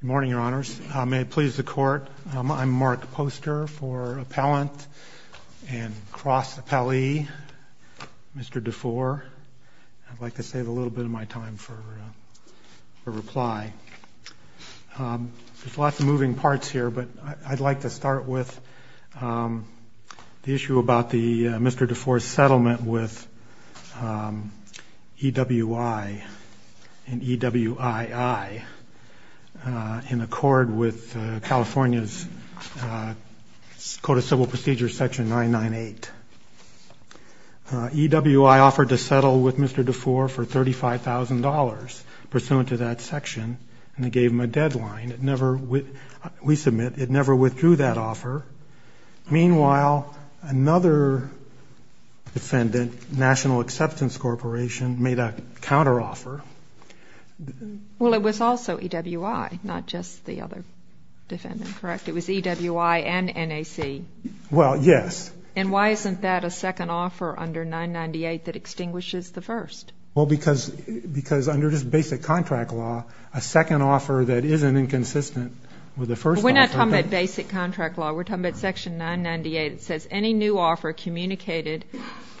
Good morning, Your Honors. May it please the Court, I'm Mark Poster for Appellant and Cross Appellee, Mr. Dufour. I'd like to save a little bit of my time for reply. There's lots of moving parts here, but I'd like to start with the issue about Mr. Dufour's settlement with EWI and EWII in accord with California's Code of Civil Procedures, Section 998. EWI offered to settle with Mr. Dufour for $35,000 pursuant to that section, and it gave him a deadline. We submit it never withdrew that offer. Meanwhile, another defendant, National Acceptance Corporation, made a counteroffer. Well, it was also EWI, not just the other defendant, correct? It was EWI and NAC. Well, yes. And why isn't that a second offer under 998 that extinguishes the first? Well, because under this basic contract law, a second offer that isn't inconsistent with the first offer. We're not talking about basic contract law. We're communicated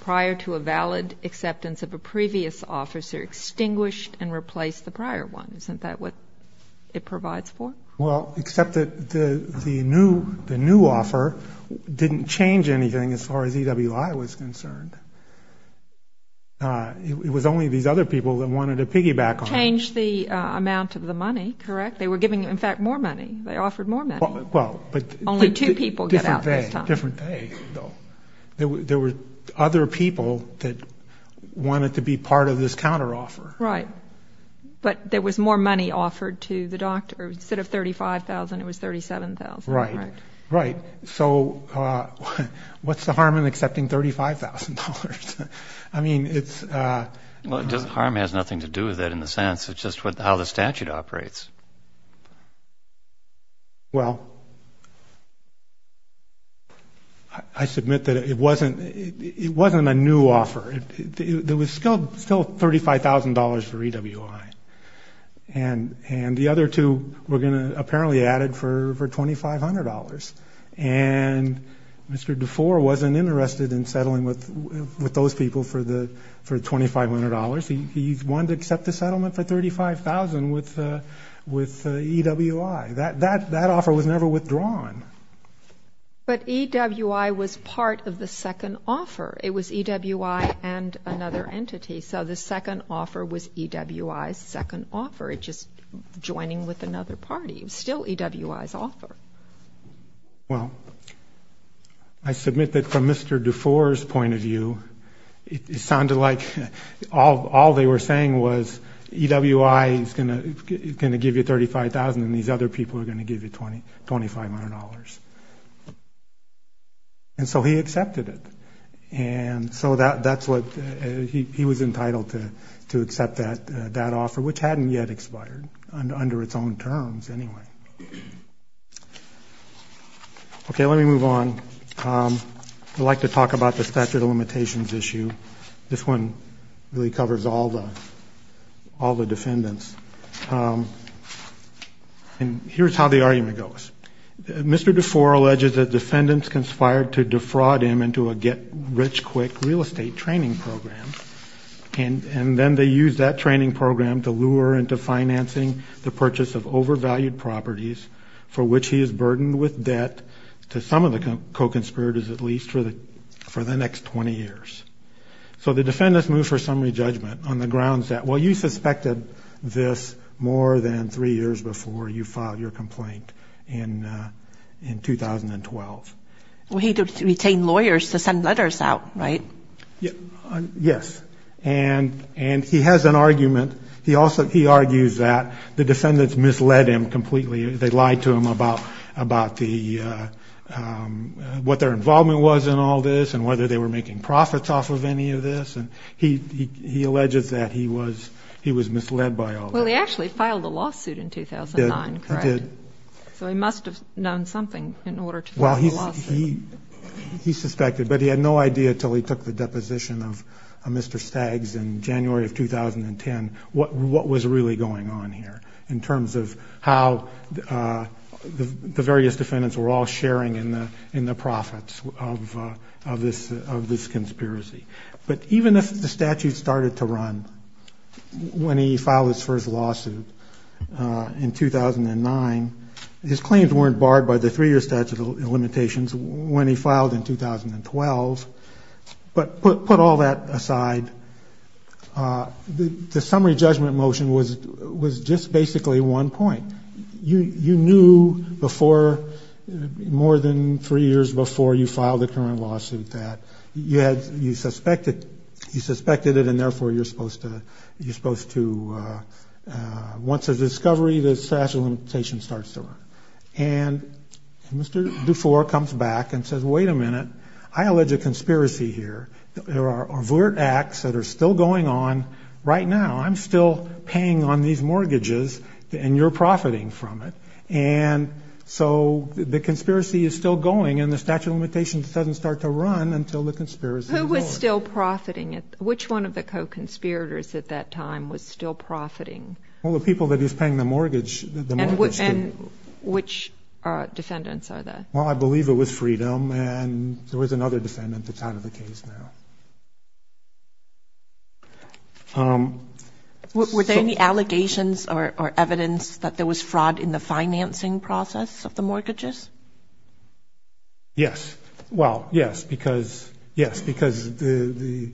prior to a valid acceptance of a previous offer, so it extinguished and replaced the prior one. Isn't that what it provides for? Well, except that the new offer didn't change anything as far as EWI was concerned. It was only these other people that wanted to piggyback on it. Changed the amount of the money, correct? They were giving, in fact, more money. They offered more money. Only two people get out this time. Different day, though. There were other people that wanted to be part of this counteroffer. Right. But there was more money offered to the doctor. Instead of $35,000, it was $37,000, correct? Right. So what's the harm in accepting $35,000? I mean, it's... Well, harm has nothing to do with it in the sense of just how the statute operates. Well, I submit that it wasn't a new offer. There was still $35,000 for EWI. And the other two were going to apparently add it for $2,500. And Mr. DeFore wasn't interested in settling with those people for the $2,500. He wanted to accept the settlement for $35,000 with EWI. That offer was never withdrawn. But EWI was part of the second offer. It was EWI and another entity. So the second offer was EWI's second offer. It's just joining with another party. It was still EWI's offer. Well, I submit that from Mr. DeFore's point of view, it sounded like all they were saying was EWI is going to give you $35,000 and these other people are going to give you $2,500. And so he accepted it. And so that's what... He was entitled to accept that offer, which hadn't yet expired under its own I'd like to talk about the statute of limitations issue. This one really covers all the defendants. And here's how the argument goes. Mr. DeFore alleges that defendants conspired to defraud him into a get-rich-quick real estate training program. And then they used that training program to lure into financing the purchase of overvalued properties for which he is burdened with debt to some of the co-conspirators at least for the next 20 years. So the defendants moved for summary judgment on the grounds that, well, you suspected this more than three years before you filed your complaint in 2012. Well, he did retain lawyers to send letters out, right? Yes. And he has an argument. He argues that the defendants misled him completely. They lied to him about the... what their involvement was in all this and whether they were making profits off of any of this. And he alleges that he was misled by all that. Well, he actually filed a lawsuit in 2009, correct? He did. So he must have known something in order to file a lawsuit. Well, he suspected, but he had no idea until he took the deposition of Mr. Staggs in January of 2010 what was really on here in terms of how the various defendants were all sharing in the profits of this conspiracy. But even if the statute started to run when he filed his first lawsuit in 2009, his claims weren't barred by the three-year statute of limitations when he filed in 2012. But put all that aside, the summary judgment motion was just basically one point. You knew before, more than three years before you filed the current lawsuit, that you suspected it and therefore you're supposed to... once there's a discovery, the statute of limitations starts to run. And Mr. Dufour comes back and says, wait a minute, I allege a conspiracy here. There are overt acts that are still going on right now. I'm still paying on these mortgages and you're profiting from it. And so the conspiracy is still going and the statute of limitations doesn't start to run until the conspiracy is over. Who was still profiting? Which one of the co-conspirators at that time was still profiting? Well, the people that he was paying the mortgage to. And which defendants are they? Well, I believe it was Freedom and there was another defendant that's out of the case now. Were there any allegations or evidence that there was fraud in the financing process of the mortgages? Yes. Well, yes, because, yes, because they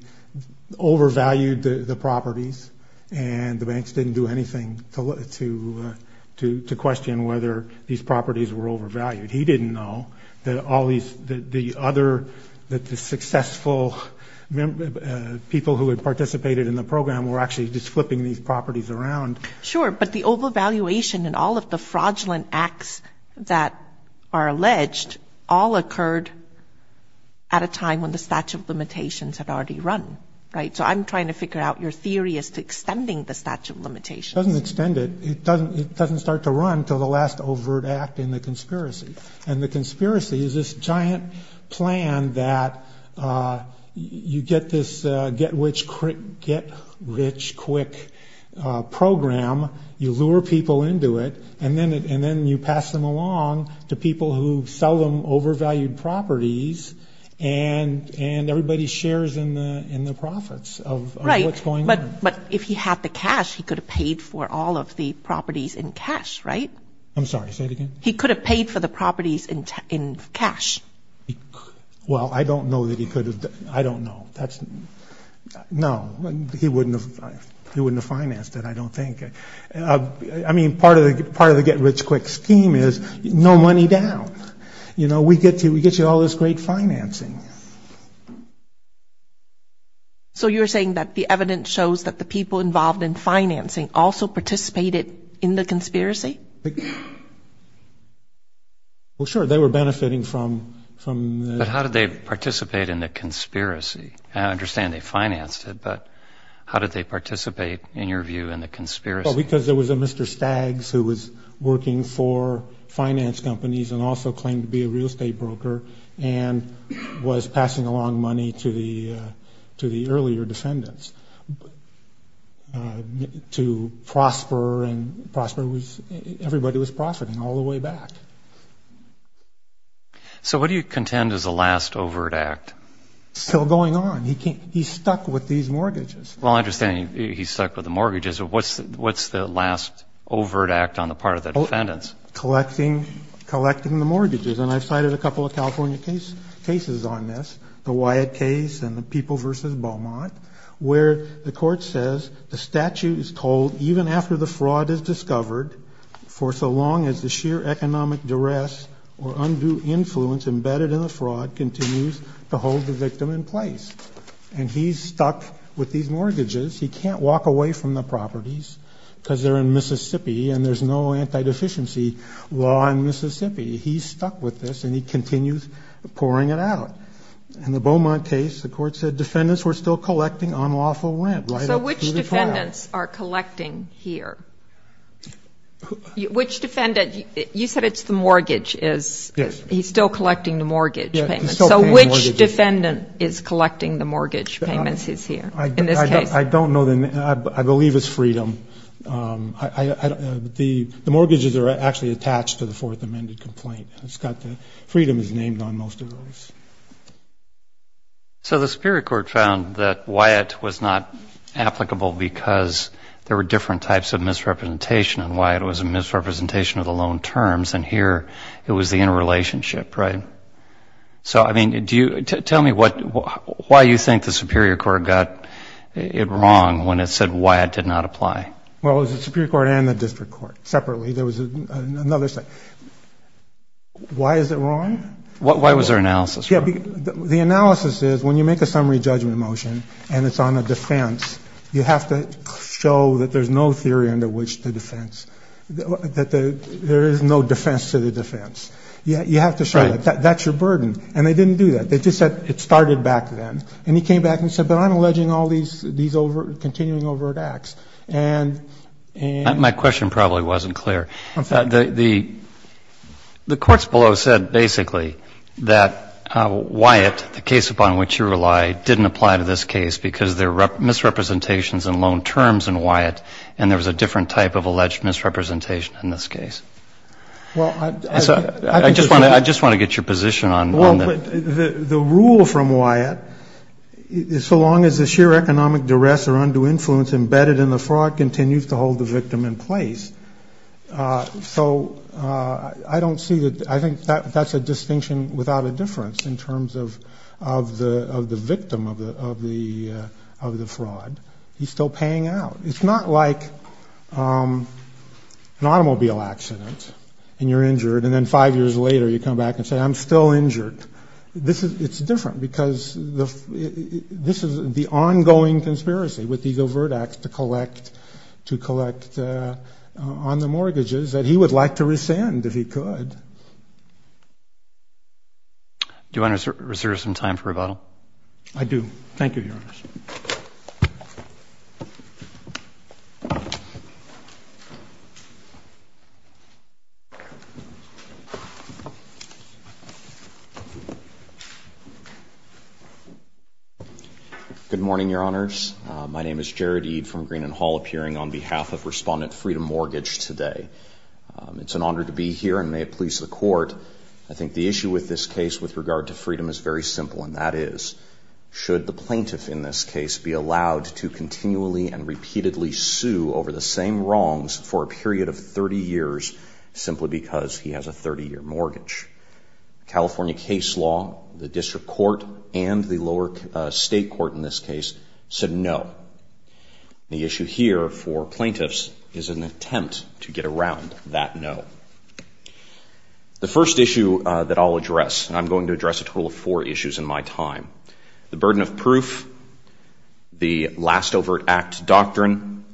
overvalued the properties and the banks didn't do anything to question whether these properties were overvalued. He didn't know that all these, the other, that the successful people who had participated in the program were actually just flipping these properties around. Sure. But the overvaluation and all of the fraudulent acts that are alleged all occurred at a time when the statute of limitations had already run. Right. So I'm trying to figure out your theory as to extending the statute of limitations. It doesn't extend it. It doesn't start to run until the last overt act in the conspiracy is this giant plan that you get this get rich quick program. You lure people into it and then you pass them along to people who sell them overvalued properties and everybody shares in the profits of what's going on. But if he had the cash, he could have paid for all of the properties in cash, right? I'm sorry, say it again. He could have paid for the properties in cash. Well, I don't know that he could have. I don't know. That's, no, he wouldn't have, he wouldn't have financed it, I don't think. I mean, part of the part of the get rich quick scheme is no money down. You know, we get to, we get you all this great financing. So you're saying that the evidence shows that the people involved in financing also participated in the conspiracy? Well, sure, they were benefiting from, from. But how did they participate in the conspiracy? I understand they financed it, but how did they participate in your view in the conspiracy? Because there was a Mr. Staggs who was working for finance companies and also claimed to be a real estate broker and was passing along money to the, to the earlier defendants to prosper and prosper was, everybody was profiting all the way back. So what do you contend is the last overt act? Still going on. He can't, he's stuck with these mortgages. Well, I understand he's stuck with the mortgages, but what's, what's the last overt act on the part of the defendants? Collecting, collecting the mortgages. And I've cited a couple of California case, cases on this, the Wyatt case and the people versus Beaumont where the court says the statute is told even after the fraud is discovered, for so long as the sheer economic duress or undue influence embedded in the fraud continues to hold the victim in place. And he's stuck with these mortgages. He can't walk away from the properties because they're in Mississippi and there's no anti-deficiency law in Mississippi. He's stuck with this and he continues pouring it out. In the Beaumont case, the court said defendants were still collecting on lawful limb. So which defendants are collecting here? Which defendant, you said it's the mortgage is, he's still collecting the mortgage payments. So which defendant is collecting the mortgage payments he's here in this case? I don't know. I believe it's freedom. The mortgages are actually attached to the fourth amended complaint. Freedom is named on most of those. So the Superior Court found that Wyatt was not applicable because there were different types of misrepresentation and Wyatt was a misrepresentation of the loan terms and here it was the interrelationship, right? So I mean, do you, tell me what, why you think the Superior Court got it wrong when it said Wyatt did not apply? Well, it was the Superior Court and the District Court separately. There was another thing. Why is it wrong? Why was their analysis wrong? The analysis is when you make a summary judgment motion and it's on a defense, you have to show that there's no theory under which the defense, that there is no defense to the defense. You have to show that that's your burden. And they didn't do that. They just said it started back then. And he came back and said, but I'm alleging all these, these overt, continuing overt acts. And my question probably wasn't clear. The courts below said basically that Wyatt, the case upon which you rely, didn't apply to this case because there were misrepresentations and loan terms in Wyatt and there was a different type of alleged misrepresentation in this case. Well, I just want to, I just want to get your position on the rule from Wyatt. So long as the sheer economic duress or undue influence embedded in the fraud continues to hold the victim in place. So I don't see that. I think that that's a distinction without a difference in terms of, of the, of the victim of the, of the, of the fraud. He's still paying out. It's not like an automobile accident and you're injured. And then five years later, you come back and say, I'm still injured. This is, it's different because the, this is the ongoing conspiracy with these overt acts to collect, to collect on the mortgages that he would like to rescind if he could. Do you want to reserve some time for rebuttal? I do. Thank you, Your Honors. Good morning, Your Honors. My name is Jared Ede from Green and Hall appearing on behalf of Respondent Freedom Mortgage today. It's an honor to be here and may it please the court. I think the issue with this case with regard to freedom is very simple. And that is, should the plaintiff in this case be allowed to continually and repeatedly sue over the same wrongs for a period of 30 years, simply because he has a 30 year mortgage. California case law, the district court and the lower state court in this case said no. The issue here for plaintiffs is an attempt to get around that no. The first issue that I'll address, and I'm going to address a total of four issues in my time, the burden of proof, the last overt act doctrine,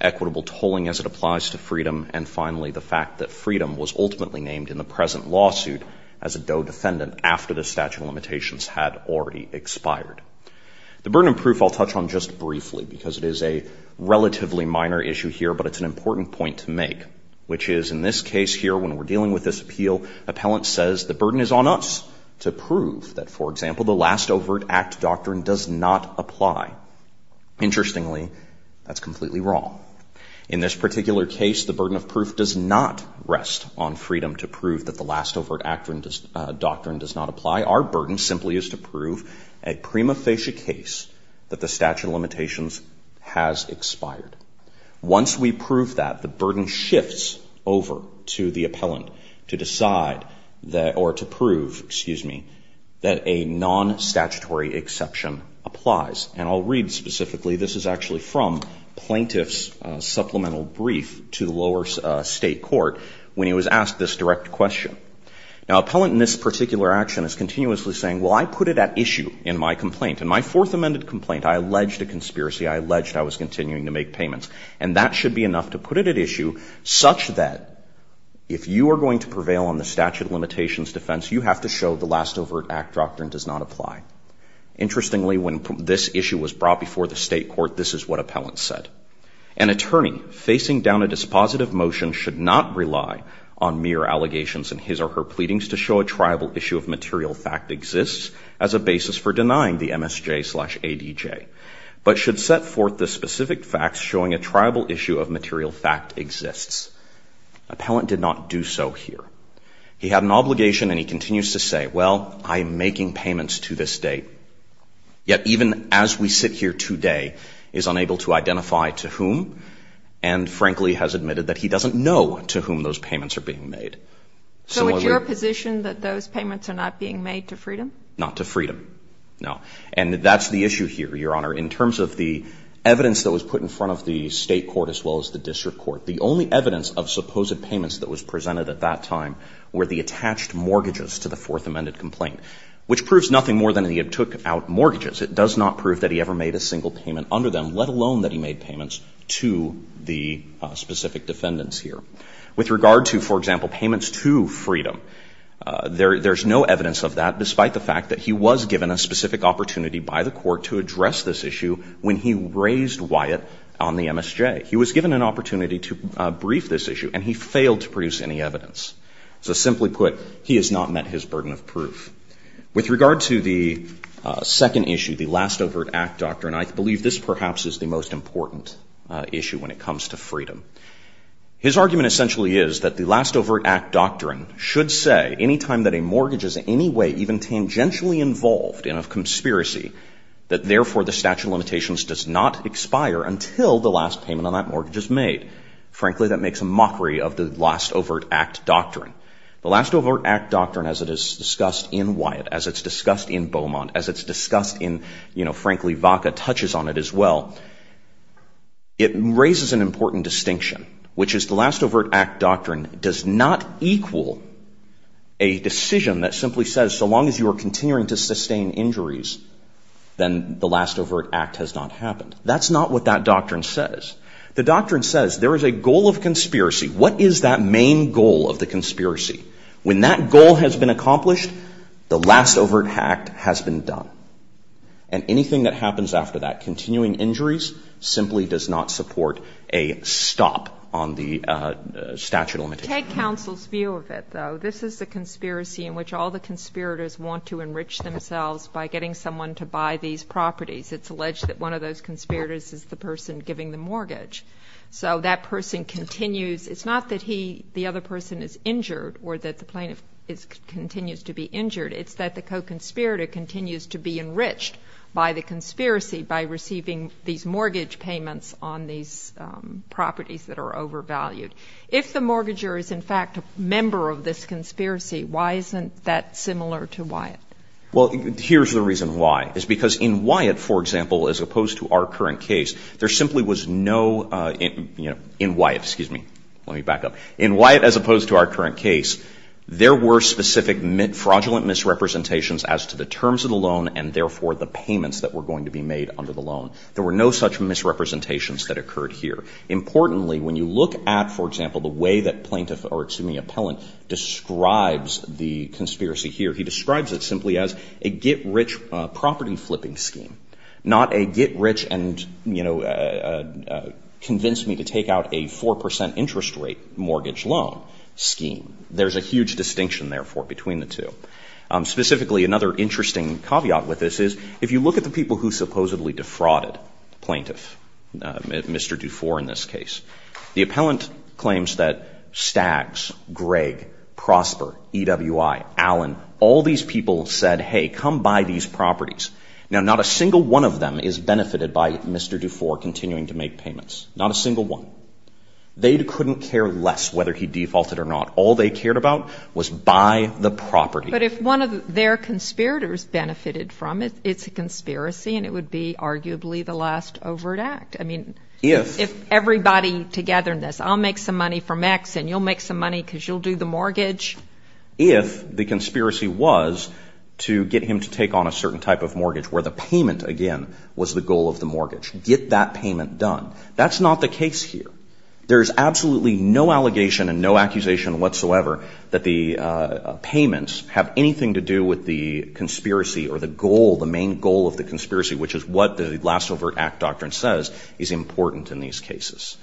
equitable tolling as it applies to freedom. And finally, the fact that freedom was ultimately named in the present lawsuit as a DOE defendant after the statute of limitations had already expired. The burden of proof I'll touch on just briefly because it is a relatively minor issue here, but it's an important point to make, which is in this case here, when we're dealing with this appeal, appellant says the burden is on us to prove that, for example, the last overt act doctrine does not apply. Interestingly, that's completely wrong. In this particular case, the burden of proof does not rest on freedom to prove that the last overt doctrine does not apply. Our burden simply is to prove a prima facie case that the statute of limitations has expired. Once we prove that, the burden shifts over to the appellant to decide that, or to prove, excuse me, that a non-statutory exception applies. And I'll read specifically, this is actually from plaintiff's supplemental brief to the lower state court when he was asked this direct question. Now, appellant in this particular action is continuously saying, well, I put it at issue in my complaint. In my fourth amended complaint, I alleged a conspiracy. I alleged I was continuing to make payments. And that should be enough to put it at issue such that if you are going to prevail on the statute of limitations defense, you have to show the last overt act doctrine does not apply. Interestingly, when this issue was brought before the state court, this is what appellant said. An attorney facing down a dispositive motion should not rely on mere allegations in his or her pleadings to show a triable issue of material fact exists as a basis for denying the showing a triable issue of material fact exists. Appellant did not do so here. He had an obligation and he continues to say, well, I'm making payments to this state. Yet even as we sit here today, is unable to identify to whom, and frankly has admitted that he doesn't know to whom those payments are being made. So it's your position that those payments are not being made to freedom? Not to freedom, no. And that's the issue here, Your Honor. In terms of the evidence that was put in front of the state court as well as the district court, the only evidence of supposed payments that was presented at that time were the attached mortgages to the Fourth Amendment complaint, which proves nothing more than he had took out mortgages. It does not prove that he ever made a single payment under them, let alone that he made payments to the specific defendants here. With regard to, for example, payments to freedom, there's no evidence of that despite the fact that he was given a specific opportunity by the court to address this issue when he raised Wyatt on the MSJ. He was given an opportunity to brief this issue and he failed to produce any evidence. So simply put, he has not met his burden of proof. With regard to the second issue, the Last Overt Act Doctrine, I believe this perhaps is the most important issue when it comes to freedom. His argument essentially is that the Last Overt Act Doctrine should say any time that a mortgage is in any even tangentially involved in a conspiracy that therefore the statute of limitations does not expire until the last payment on that mortgage is made. Frankly, that makes a mockery of the Last Overt Act Doctrine. The Last Overt Act Doctrine, as it is discussed in Wyatt, as it's discussed in Beaumont, as it's discussed in, you know, frankly, Vaca touches on it as well, it raises an important distinction, which is the Last Overt Act Doctrine does not equal a decision that simply says so long as you are continuing to sustain injuries, then the Last Overt Act has not happened. That's not what that doctrine says. The doctrine says there is a goal of conspiracy. What is that main goal of the conspiracy? When that goal has been accomplished, the Last Overt Act has been done. And anything that happens after that, continuing injuries, simply does not support a stop on the statute of limitations. Take counsel's view of it, though. This is a conspiracy in which all the conspirators want to enrich themselves by getting someone to buy these properties. It's alleged that one of those conspirators is the person giving the mortgage. So that person continues. It's not that he, the other person is injured or that the plaintiff continues to be injured. It's that the co-conspirator continues to be enriched by the conspiracy by receiving these mortgage payments on these properties that are overvalued. If the mortgager is in fact a member of this conspiracy, why isn't that similar to Wyatt? Well, here's the reason why. It's because in Wyatt, for example, as opposed to our current case, there simply was no, you know, in Wyatt, excuse me, let me back up, in Wyatt as opposed to our current case, there were specific fraudulent misrepresentations as to the terms of the loan and therefore the payments that were going to be made under the loan. There were no such misrepresentations that occurred here. Importantly, when you look at, for example, the way that plaintiff or, excuse me, appellant describes the conspiracy here, he describes it simply as a get rich property flipping scheme, not a get rich and, you know, convince me to take out a 4% interest rate mortgage loan scheme. There's a huge distinction, therefore, between the two. Specifically, another interesting caveat with this is if you look at the people who supposedly defrauded plaintiff, Mr. Dufour in this case, the appellant claims that Staggs, Greg, Prosper, EWI, Allen, all these people said, hey, come buy these properties. Now, not a single one of them is benefited by Mr. Dufour continuing to make payments, not a single one. They couldn't care less whether he defaulted or not. All they cared about was buy the property. But if one of their conspirators benefited from it, it's a conspiracy and it would be arguably the last overt act. I mean, if everybody together in this, I'll make some money from X and you'll make some money because you'll do the mortgage. If the conspiracy was to get him to take on a certain type of mortgage where the payment, again, was the goal of the mortgage, get that payment done. That's not the case here. There's absolutely no allegation and no accusation whatsoever that the payments have anything to do with the conspiracy or the goal, the main goal of the conspiracy, which is what the last overt act doctrine says is important in these cases.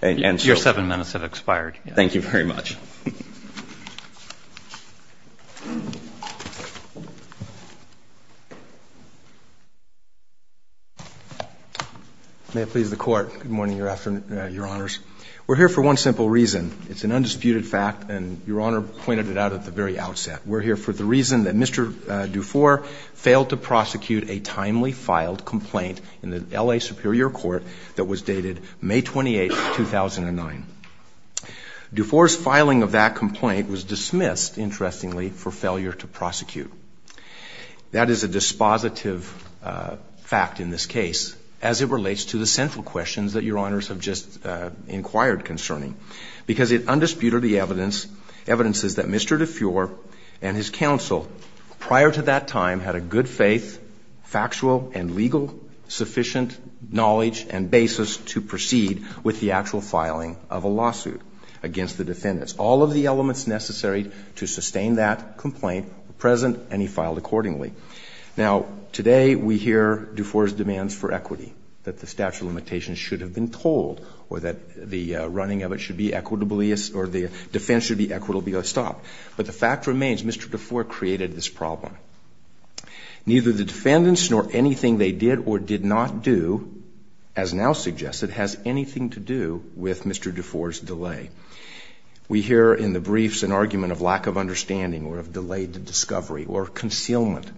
And so. Your seven minutes have expired. Thank you very much. May it please the Court. Good morning, Your Honor. We're here for one simple reason. It's an undisputed fact and Your Honor pointed it out at the very outset. We're here for the reason that Mr. Dufour failed to prosecute a timely filed complaint in the L.A. Superior Court that was dated May 28th, 2009. Dufour's filing of that complaint was dismissed, interestingly, for failure to prosecute. That is a dispositive fact in this case as it relates to the central questions that Your Honors have just inquired concerning because it undisputed the evidence, evidences that Mr. Dufour and his counsel prior to that time had a good faith, factual and legal sufficient knowledge and basis to proceed with the actual filing of a lawsuit against the defendants. All of the elements necessary to sustain that complaint were present and he filed accordingly. Now, today we hear Dufour's demands for equity that the statute of limitations should have been told or that the running of it should be equitably or the defense should be equitably stopped. But the fact remains Mr. Dufour created this problem. Neither the defendants nor anything they did or did not do, as now suggested, has anything to do with Mr. Dufour's delay. We hear in the briefs an argument of lack of understanding or of delayed discovery or concealment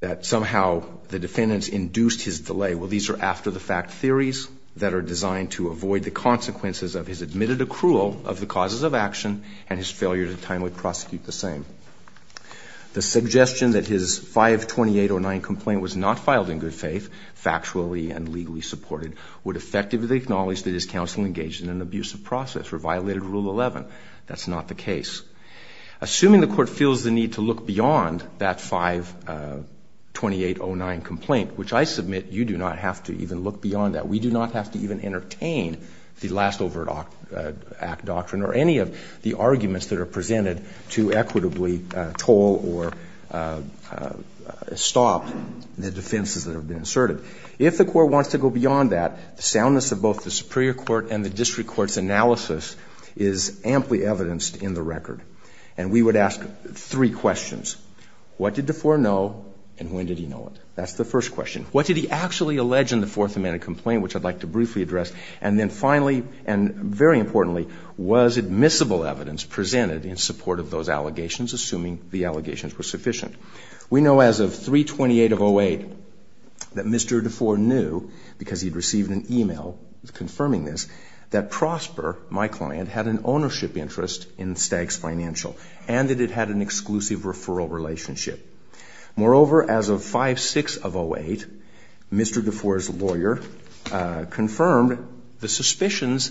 that somehow the defendants induced his delay. Well, these are after-the-fact theories that are designed to avoid the consequences of his admitted accrual of the causes of action and his failure to timely prosecute the same. The suggestion that his 528.09 complaint was not filed in good faith, factually and legally supported, would effectively acknowledge that his counsel engaged in an abusive process or violated Rule 11. That's not the case. Assuming the court feels the need to look beyond that 528.09 complaint, which I submit you do not have to even look beyond that, we do not have to even entertain the last overt act doctrine or any of the arguments that are presented to equitably toll or stop the defenses that have been asserted. If the court wants to go beyond that, the soundness of both the superior court and the district court's analysis is amply evidenced in the record. And we would ask three questions. What did DeFore know and when did he know it? That's the first question. What did he actually allege in the Fourth Amendment complaint, which I'd like to briefly address? And then finally, and very importantly, was admissible evidence presented in support of those allegations, assuming the allegations were sufficient? We know as of 328.08 that Mr. DeFore knew, because he'd received an email confirming this, that Prosper, my client, had an ownership interest in Staggs Financial and that it had an exclusive referral relationship. Moreover, as of 5.6.08, Mr. DeFore's lawyer confirmed the suspicions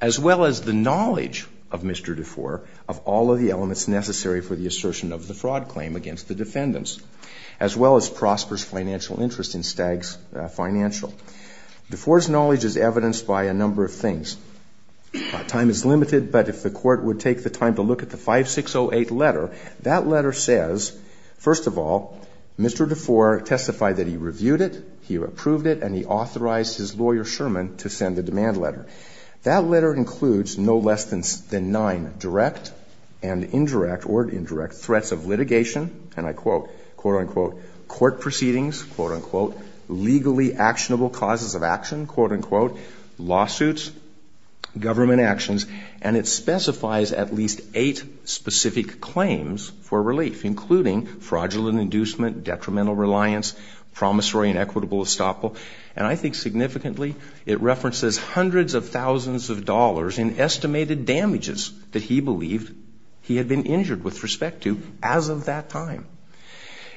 as well as the knowledge of Mr. DeFore of all of the elements necessary for the assertion of the fraud claim against the defendants, as well as Prosper's financial interest in Staggs Financial. DeFore's knowledge is evidenced by a number of things. Time is limited, but if the Court would take the time to look at the 5.6.08 letter, that letter says, first of all, Mr. DeFore testified that he reviewed it, he approved it, and he authorized his lawyer, Sherman, to send a demand letter. That letter includes no less than nine direct and indirect, or indirect, threats of litigation, and I quote, quote, unquote, court proceedings, quote, unquote, legally actionable causes of action, quote, unquote, lawsuits, government actions, and it specifies at least eight specific claims for relief, including fraudulent inducement, detrimental reliance, promissory and equitable estoppel, and I think significantly, it references hundreds of thousands of dollars in estimated damages that he believed he had been injured with respect to as of that time.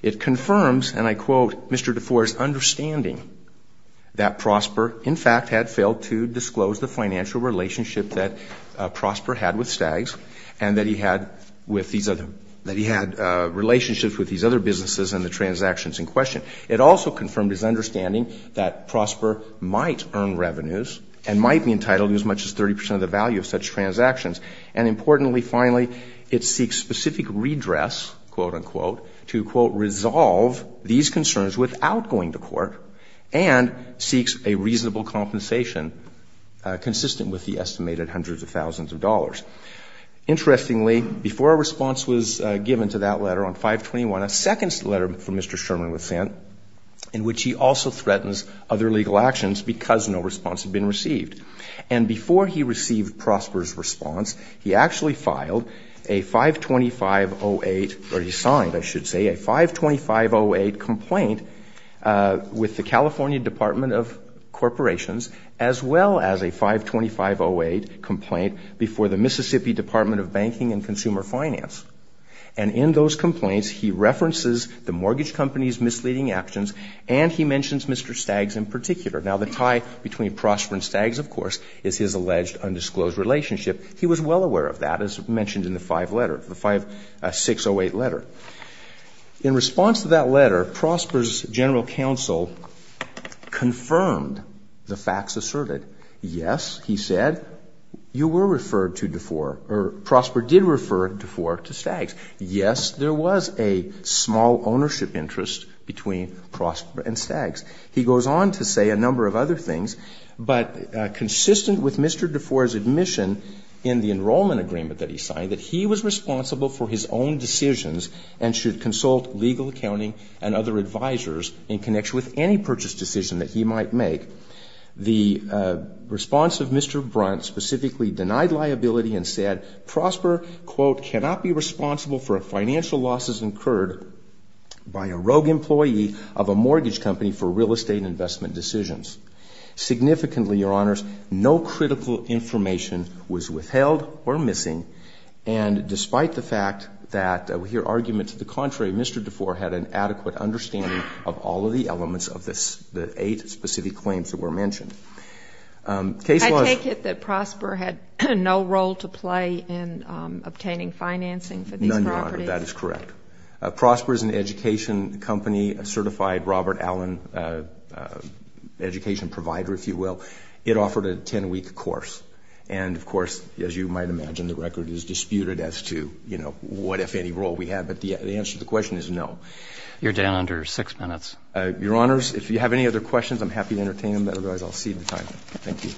It confirms, and I quote, Mr. DeFore's understanding that Prosper, in fact, had failed to disclose the financial relationship that Prosper had with Staggs and that he had relationships with these other businesses and the transactions in question. It also confirmed his understanding that Prosper might earn revenues and might be entitled to as much as 30 percent of the value of such transactions, and importantly, finally, it seeks specific redress, quote, unquote, to, quote, resolve these concerns without going to court and seeks a reasonable compensation consistent with the estimated hundreds of thousands of dollars. Interestingly, before a response was given to that letter on 521, a second letter from Mr. Sherman was sent in which he also threatens other legal actions because no response had been received, and before he received Prosper's response, he actually filed a 525-08, or he signed, I should say, a 525-08 complaint with the California Department of Corporations as well as a 525-08 complaint before the Mississippi Department of Banking and Consumer Finance, and in those complaints, he references the mortgage company's misleading actions and he mentions Mr. Staggs in particular. Now, the tie between Prosper and Staggs, of course, is his alleged undisclosed relationship. He was well aware of that, as mentioned in the five letter, the 608 letter. In response to that letter, Prosper's general counsel confirmed the facts asserted. Yes, he said, you were referred to DeFore, or Prosper did refer DeFore to Staggs. Yes, there was a small ownership interest between Prosper and Staggs. He goes on to say a number of other things, but consistent with Mr. DeFore's admission in the enrollment agreement that he signed, that he was responsible for his own decisions and should consult legal accounting and other advisors in connection with any purchase decision that he might make. The response of Mr. Brunt specifically denied liability and said, Prosper, quote, cannot be responsible for financial losses incurred by a rogue employee of a mortgage company for real estate investment decisions. Significantly, Your Honors, no critical information was withheld or missing, and despite the fact that, with your argument to the contrary, Mr. DeFore had an adequate understanding of all of the elements of the eight specific claims that were mentioned. Case laws ---- I take it that Prosper had no role to play in obtaining financing for these properties? None, Your Honor. That is correct. Prosper is an education company, a certified Robert Allen education provider, if you will. It offered a 10-week course. And, of course, as you might imagine, the record is disputed as to, you know, what if any role we have. But the answer to the question is no. You're down under six minutes. Your Honors, if you have any other questions, I'm happy to entertain them. Otherwise, I'll cede the time. Thank you.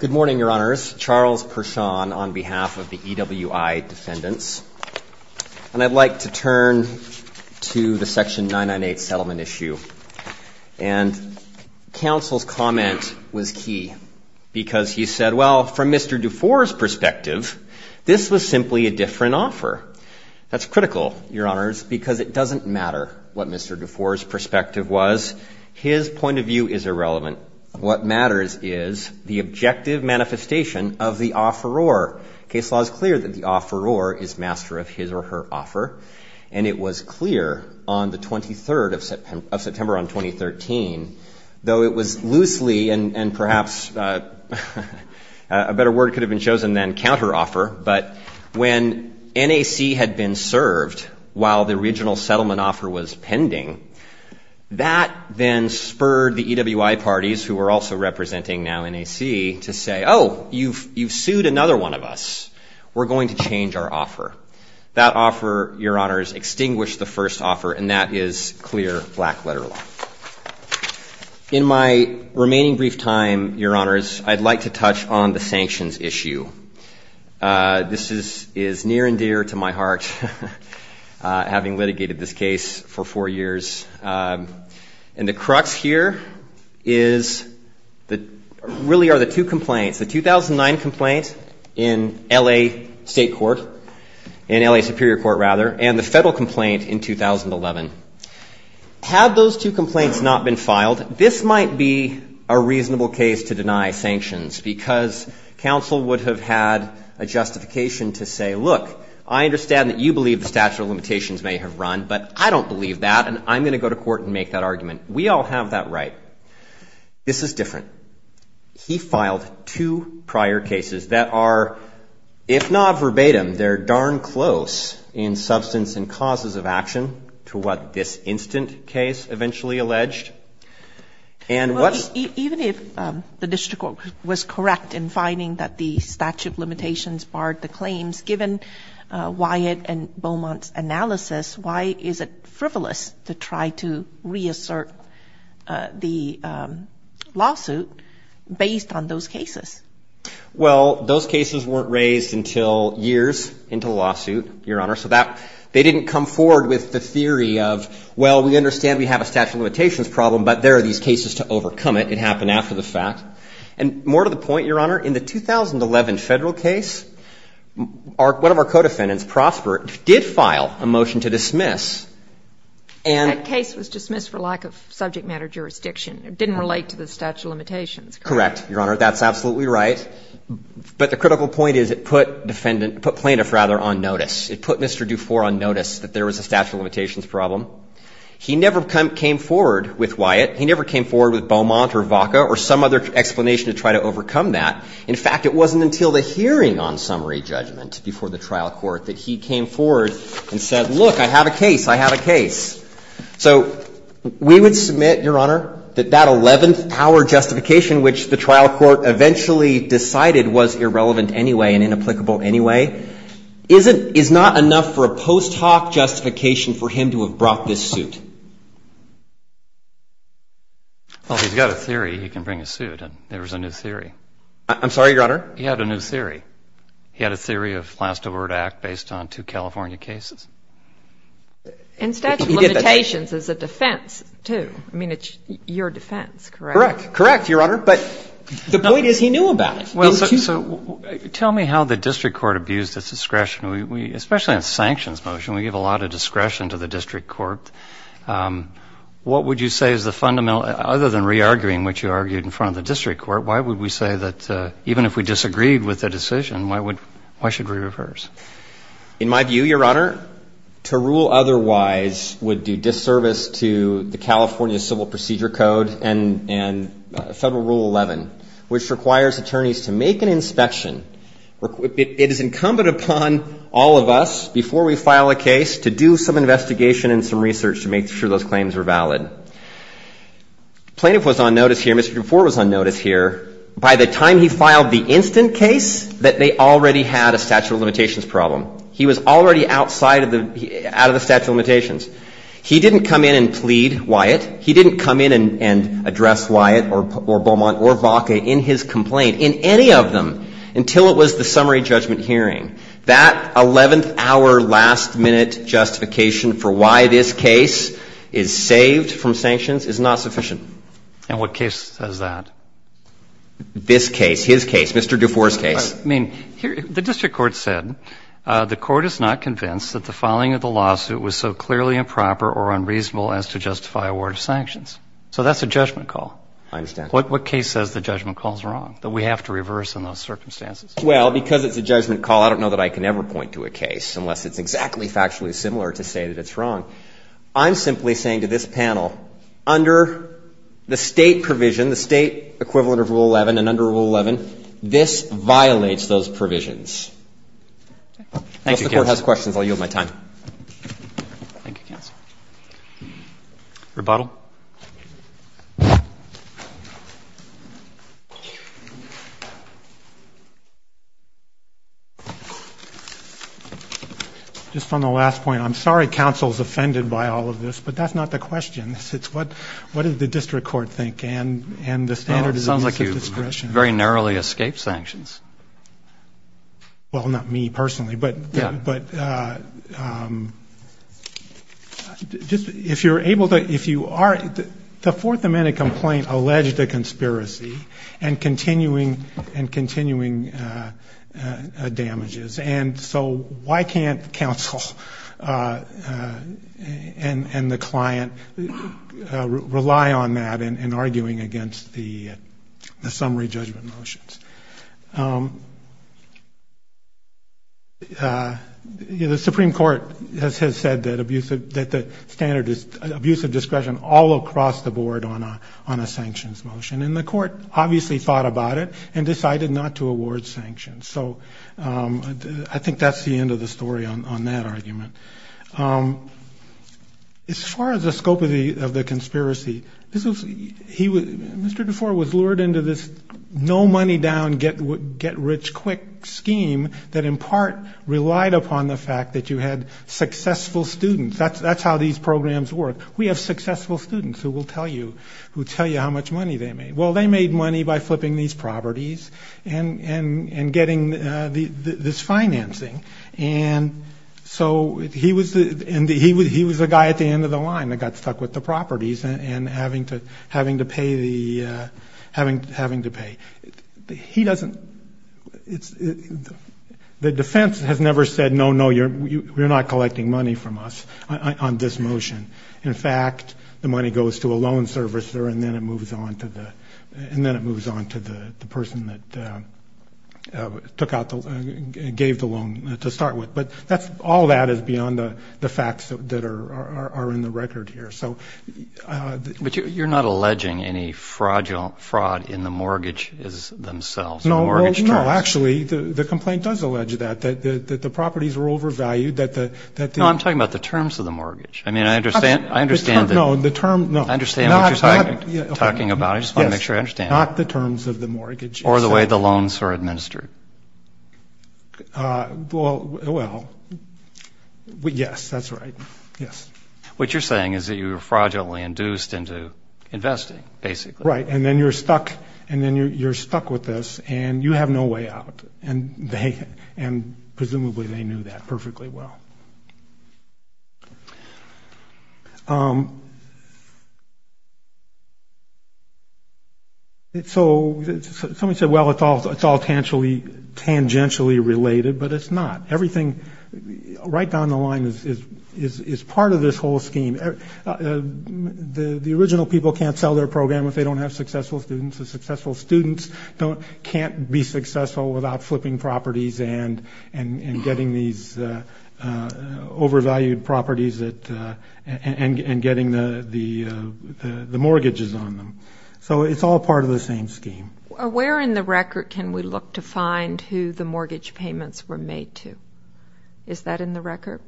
Good morning, Your Honors. Charles Pershon on behalf of the EWI Defendants. And I'd like to turn to the Section 998 settlement issue. And counsel's comment was key, because he said, well, from Mr. DeFore's perspective, this was simply a different offer. That's critical, Your Honors, because it doesn't matter what Mr. DeFore's perspective is. His point of view is irrelevant. What matters is the objective manifestation of the offeror. Case law is clear that the offeror is master of his or her offer. And it was clear on the 23rd of September on 2013, though it was loosely and perhaps a better word could have been chosen than counteroffer. But when NAC had been served while the original settlement offer was pending, that then spurred the EWI parties, who are also representing now NAC, to say, oh, you've sued another one of us. We're going to change our offer. That offer, Your Honors, extinguished the first offer. And that is clear black letter law. In my remaining brief time, Your Honors, I'd like to touch on the sanctions issue. This is near and dear to my heart, having litigated this case for four years. And the crux here really are the two complaints, the 2009 complaint in LA State Court, in LA Superior Court, rather, and the federal complaint in 2011. Had those two complaints not been filed, this might be a reasonable case to deny sanctions because counsel would have had a justification to say, look, I understand that you believe the statute of limitations may have run, but I don't believe that, and I'm going to go to court and make that argument. We all have that right. This is different. He filed two prior cases that are, if not verbatim, they're darn close in substance and causes of action to what this instant case eventually alleged. Even if the district court was correct in finding that the statute of limitations barred the claims, given Wyatt and Beaumont's analysis, why is it frivolous to try to reassert the lawsuit based on those cases? Well, those cases weren't raised until years into the lawsuit, Your Honor, so they didn't come forward with the theory of, well, we understand we have a statute of limitations problem, but there are these cases to overcome it. It happened after the fact. And more to the point, Your Honor, in the 2011 federal case, one of our co-defendants, Prosper, did file a motion to dismiss, and the case was dismissed for lack of subject matter jurisdiction. It didn't relate to the statute of limitations. Correct, Your Honor. That's absolutely right. But the critical point is it put defendant, put plaintiff, rather, on notice. It put Mr. Dufour on notice that there was a statute of limitations. And he never came forward with Wyatt. He never came forward with Beaumont or Vaca or some other explanation to try to overcome that. In fact, it wasn't until the hearing on summary judgment before the trial court that he came forward and said, look, I have a case. I have a case. So we would submit, Your Honor, that that 11th-hour justification which the trial court eventually decided was irrelevant anyway and inapplicable anyway, is not enough for a post hoc justification for him to have brought this suit. Well, he's got a theory. He can bring a suit. And there was a new theory. I'm sorry, Your Honor. He had a new theory. He had a theory of last-of-order act based on two California cases. And statute of limitations is a defense, too. I mean, it's your defense, correct? Correct. Correct, Your Honor. But the point is he knew about it. So tell me how the district court abused its discretion, especially on the sanctions motion. We give a lot of discretion to the district court. What would you say is the fundamental, other than re-arguing what you argued in front of the district court, why would we say that even if we disagreed with the decision, why should we reverse? In my view, Your Honor, to rule otherwise would do disservice to the California Civil Procedure Code and Federal Rule 11, which requires attorneys to make an inspection. It is incumbent upon all of us, before we file a case, to do some investigation and some research to make sure those claims are valid. Plaintiff was on notice here. Mr. Dufour was on notice here. By the time he filed the instant case that they already had a statute of limitations problem. He was already outside of the statute of limitations. He didn't come in and plead, Wyatt. He didn't come in and address Wyatt or Beaumont or Vaca in his complaint, in any of them, until it was the summary judgment hearing. That 11th-hour, last-minute justification for why this case is saved from sanctions is not sufficient. And what case says that? This case, his case, Mr. Dufour's case. I mean, the district court said the court is not convinced that the filing of the statute of limitations is sufficient to justify a warrant of sanctions. So that's a judgment call. I understand. What case says the judgment call is wrong, that we have to reverse in those circumstances? Well, because it's a judgment call, I don't know that I can ever point to a case, unless it's exactly factually similar to say that it's wrong. I'm simply saying to this panel, under the State provision, the State equivalent of Rule 11 and under Rule 11, this violates those provisions. Thank you, counsel. Unless the Court has questions, I'll yield my time. Thank you, counsel. Rebuttal. Just on the last point, I'm sorry counsel is offended by all of this, but that's not the question. It's what does the district court think, and the standard is it's a discretion. It sounds like you very narrowly escaped sanctions. Well, not me, personally. But if you're able to, if you are, the Fourth Amendment complaint alleged a conspiracy and continuing damages. And so why can't counsel and the client rely on that in arguing against the summary judgment motions? The Supreme Court has said that the standard is abuse of discretion all across the board on a sanctions motion. And the Court obviously thought about it and decided not to award sanctions. So I think that's the end of the story on that argument. As far as the scope of the conspiracy, Mr. DeFore was lured into this no money down, get rich quick scheme that in part relied upon the fact that you had successful students. That's how these programs work. We have successful students who will tell you how much money they made. Well, they made money by flipping these properties and getting this financing. And so he was the guy at the end of the line that got stuck with the properties and having to pay the, having to pay. He doesn't, it's, the defense has never said, no, no, you're, you're not collecting money from us on this motion. In fact, the money goes to a loan servicer and then it moves on to the, and then it moves on to the person that took out the, gave the loan to start with. But that's, all that is beyond the facts that are in the record here. So, uh, but you're not alleging any fraudulent fraud in the mortgage is themselves. No, no, actually the complaint does allege that, that the properties were overvalued that the, that the, I'm talking about the terms of the mortgage. I mean, I understand, I understand that the term, I understand what you're talking about. I just want to make sure I understand the terms of the mortgage or the way the loans are administered. Uh, well, well, yes, that's right. Yes. What you're saying is that you were fraudulently induced into investing basically. Right. And then you're stuck and then you're, you're stuck with this and you have no way out. And they, and presumably they knew that perfectly well. Um, so somebody said, well, it's all, it's all tangentially related, but it's not. Everything right down the line is, is, is, is part of this whole scheme. The, the original people can't sell their program if they don't have successful students and successful students don't, can't be successful without flipping properties and, and, and getting these, uh, uh, overvalued properties that, uh, and, and getting the, the, uh, the mortgages on them. So it's all part of the same scheme. Where in the record can we look to find who the mortgage payments were made to? Is that in the record?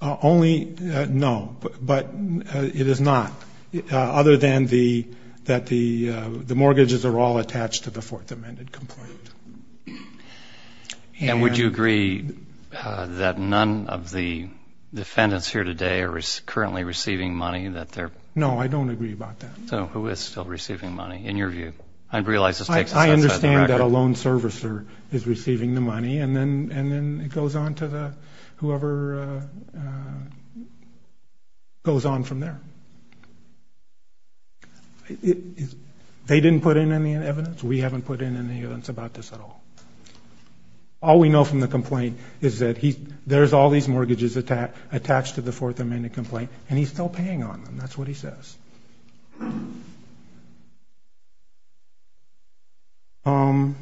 Only, uh, no, but, but, uh, it is not, uh, other than the, that the, uh, the mortgages are all attached to the fourth amended complaint. And would you agree that none of the defendants here today are currently receiving money that they're... No, I don't agree about that. So who is still receiving money in your view? I realize this takes us outside the record. I understand that a loan servicer is receiving the money and then, and then it goes on to the, whoever, uh, uh, goes on from there. They didn't put in any evidence. We haven't put in any evidence about this at all. All we know from the complaint is that he, there's all these mortgages attached, attached to the fourth amended complaint and he's still paying on them. That's what he says. Um,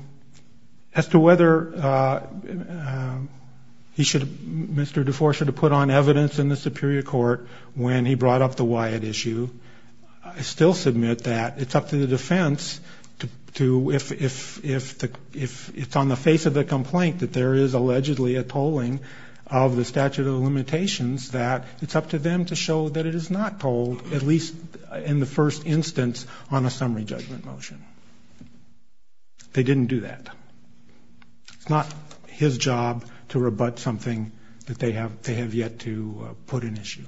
as to whether, uh, um, he should, Mr. DeFore should have put on evidence in the superior court when he brought up the Wyatt issue. I still submit that it's up to the defense to, to, if, if, if the, if it's on the face of the complaint that there is allegedly a tolling of the statute of limitations, that it's up to them to show that it is not told at least in the first instance on a summary judgment motion. They didn't do that. It's not his job to rebut something that they have, they have yet to put an issue.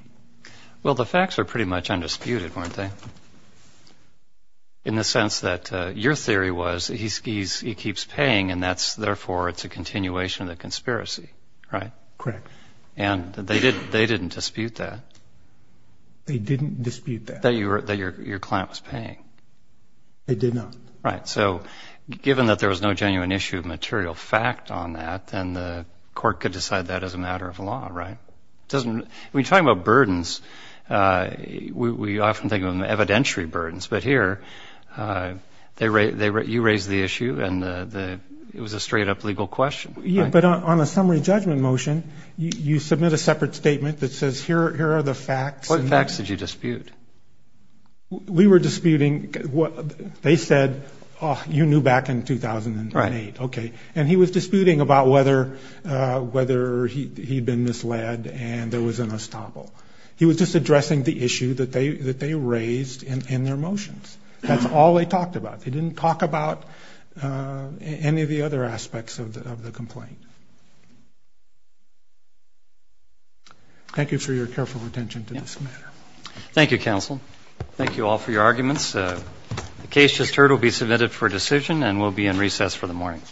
Well, the facts are pretty much undisputed, weren't they? In the sense that, uh, your theory was he's, he's, he keeps paying and that's, therefore it's a continuation of the conspiracy, right? Correct. And they did, they didn't dispute that. They didn't dispute that. That you were, that your, your client was paying. They did not. Right. So given that there was no genuine issue of material fact on that, then the court could decide that as a matter of law, right? It doesn't, when you're talking about burdens, uh, we, we often think of them evidentiary burdens, but here, uh, they, they, you raised the issue and the, the, it was a straight up legal question. Yeah. But on a summary judgment motion, you submit a separate statement that says, here, here are the facts. What facts did you dispute? We were disputing what they said, oh, you knew back in 2008. Right. Okay. And he was disputing about whether, uh, whether he, he'd been misled and there was an estoppel. He was just addressing the issue that they, that they raised in, in their motions. That's all they talked about. They didn't talk about, uh, any of the other aspects of the, of the complaint. Thank you for your careful attention to this matter. Thank you, counsel. Thank you all for your arguments. Uh, the case just heard will be submitted for decision and we'll be in recess for the morning.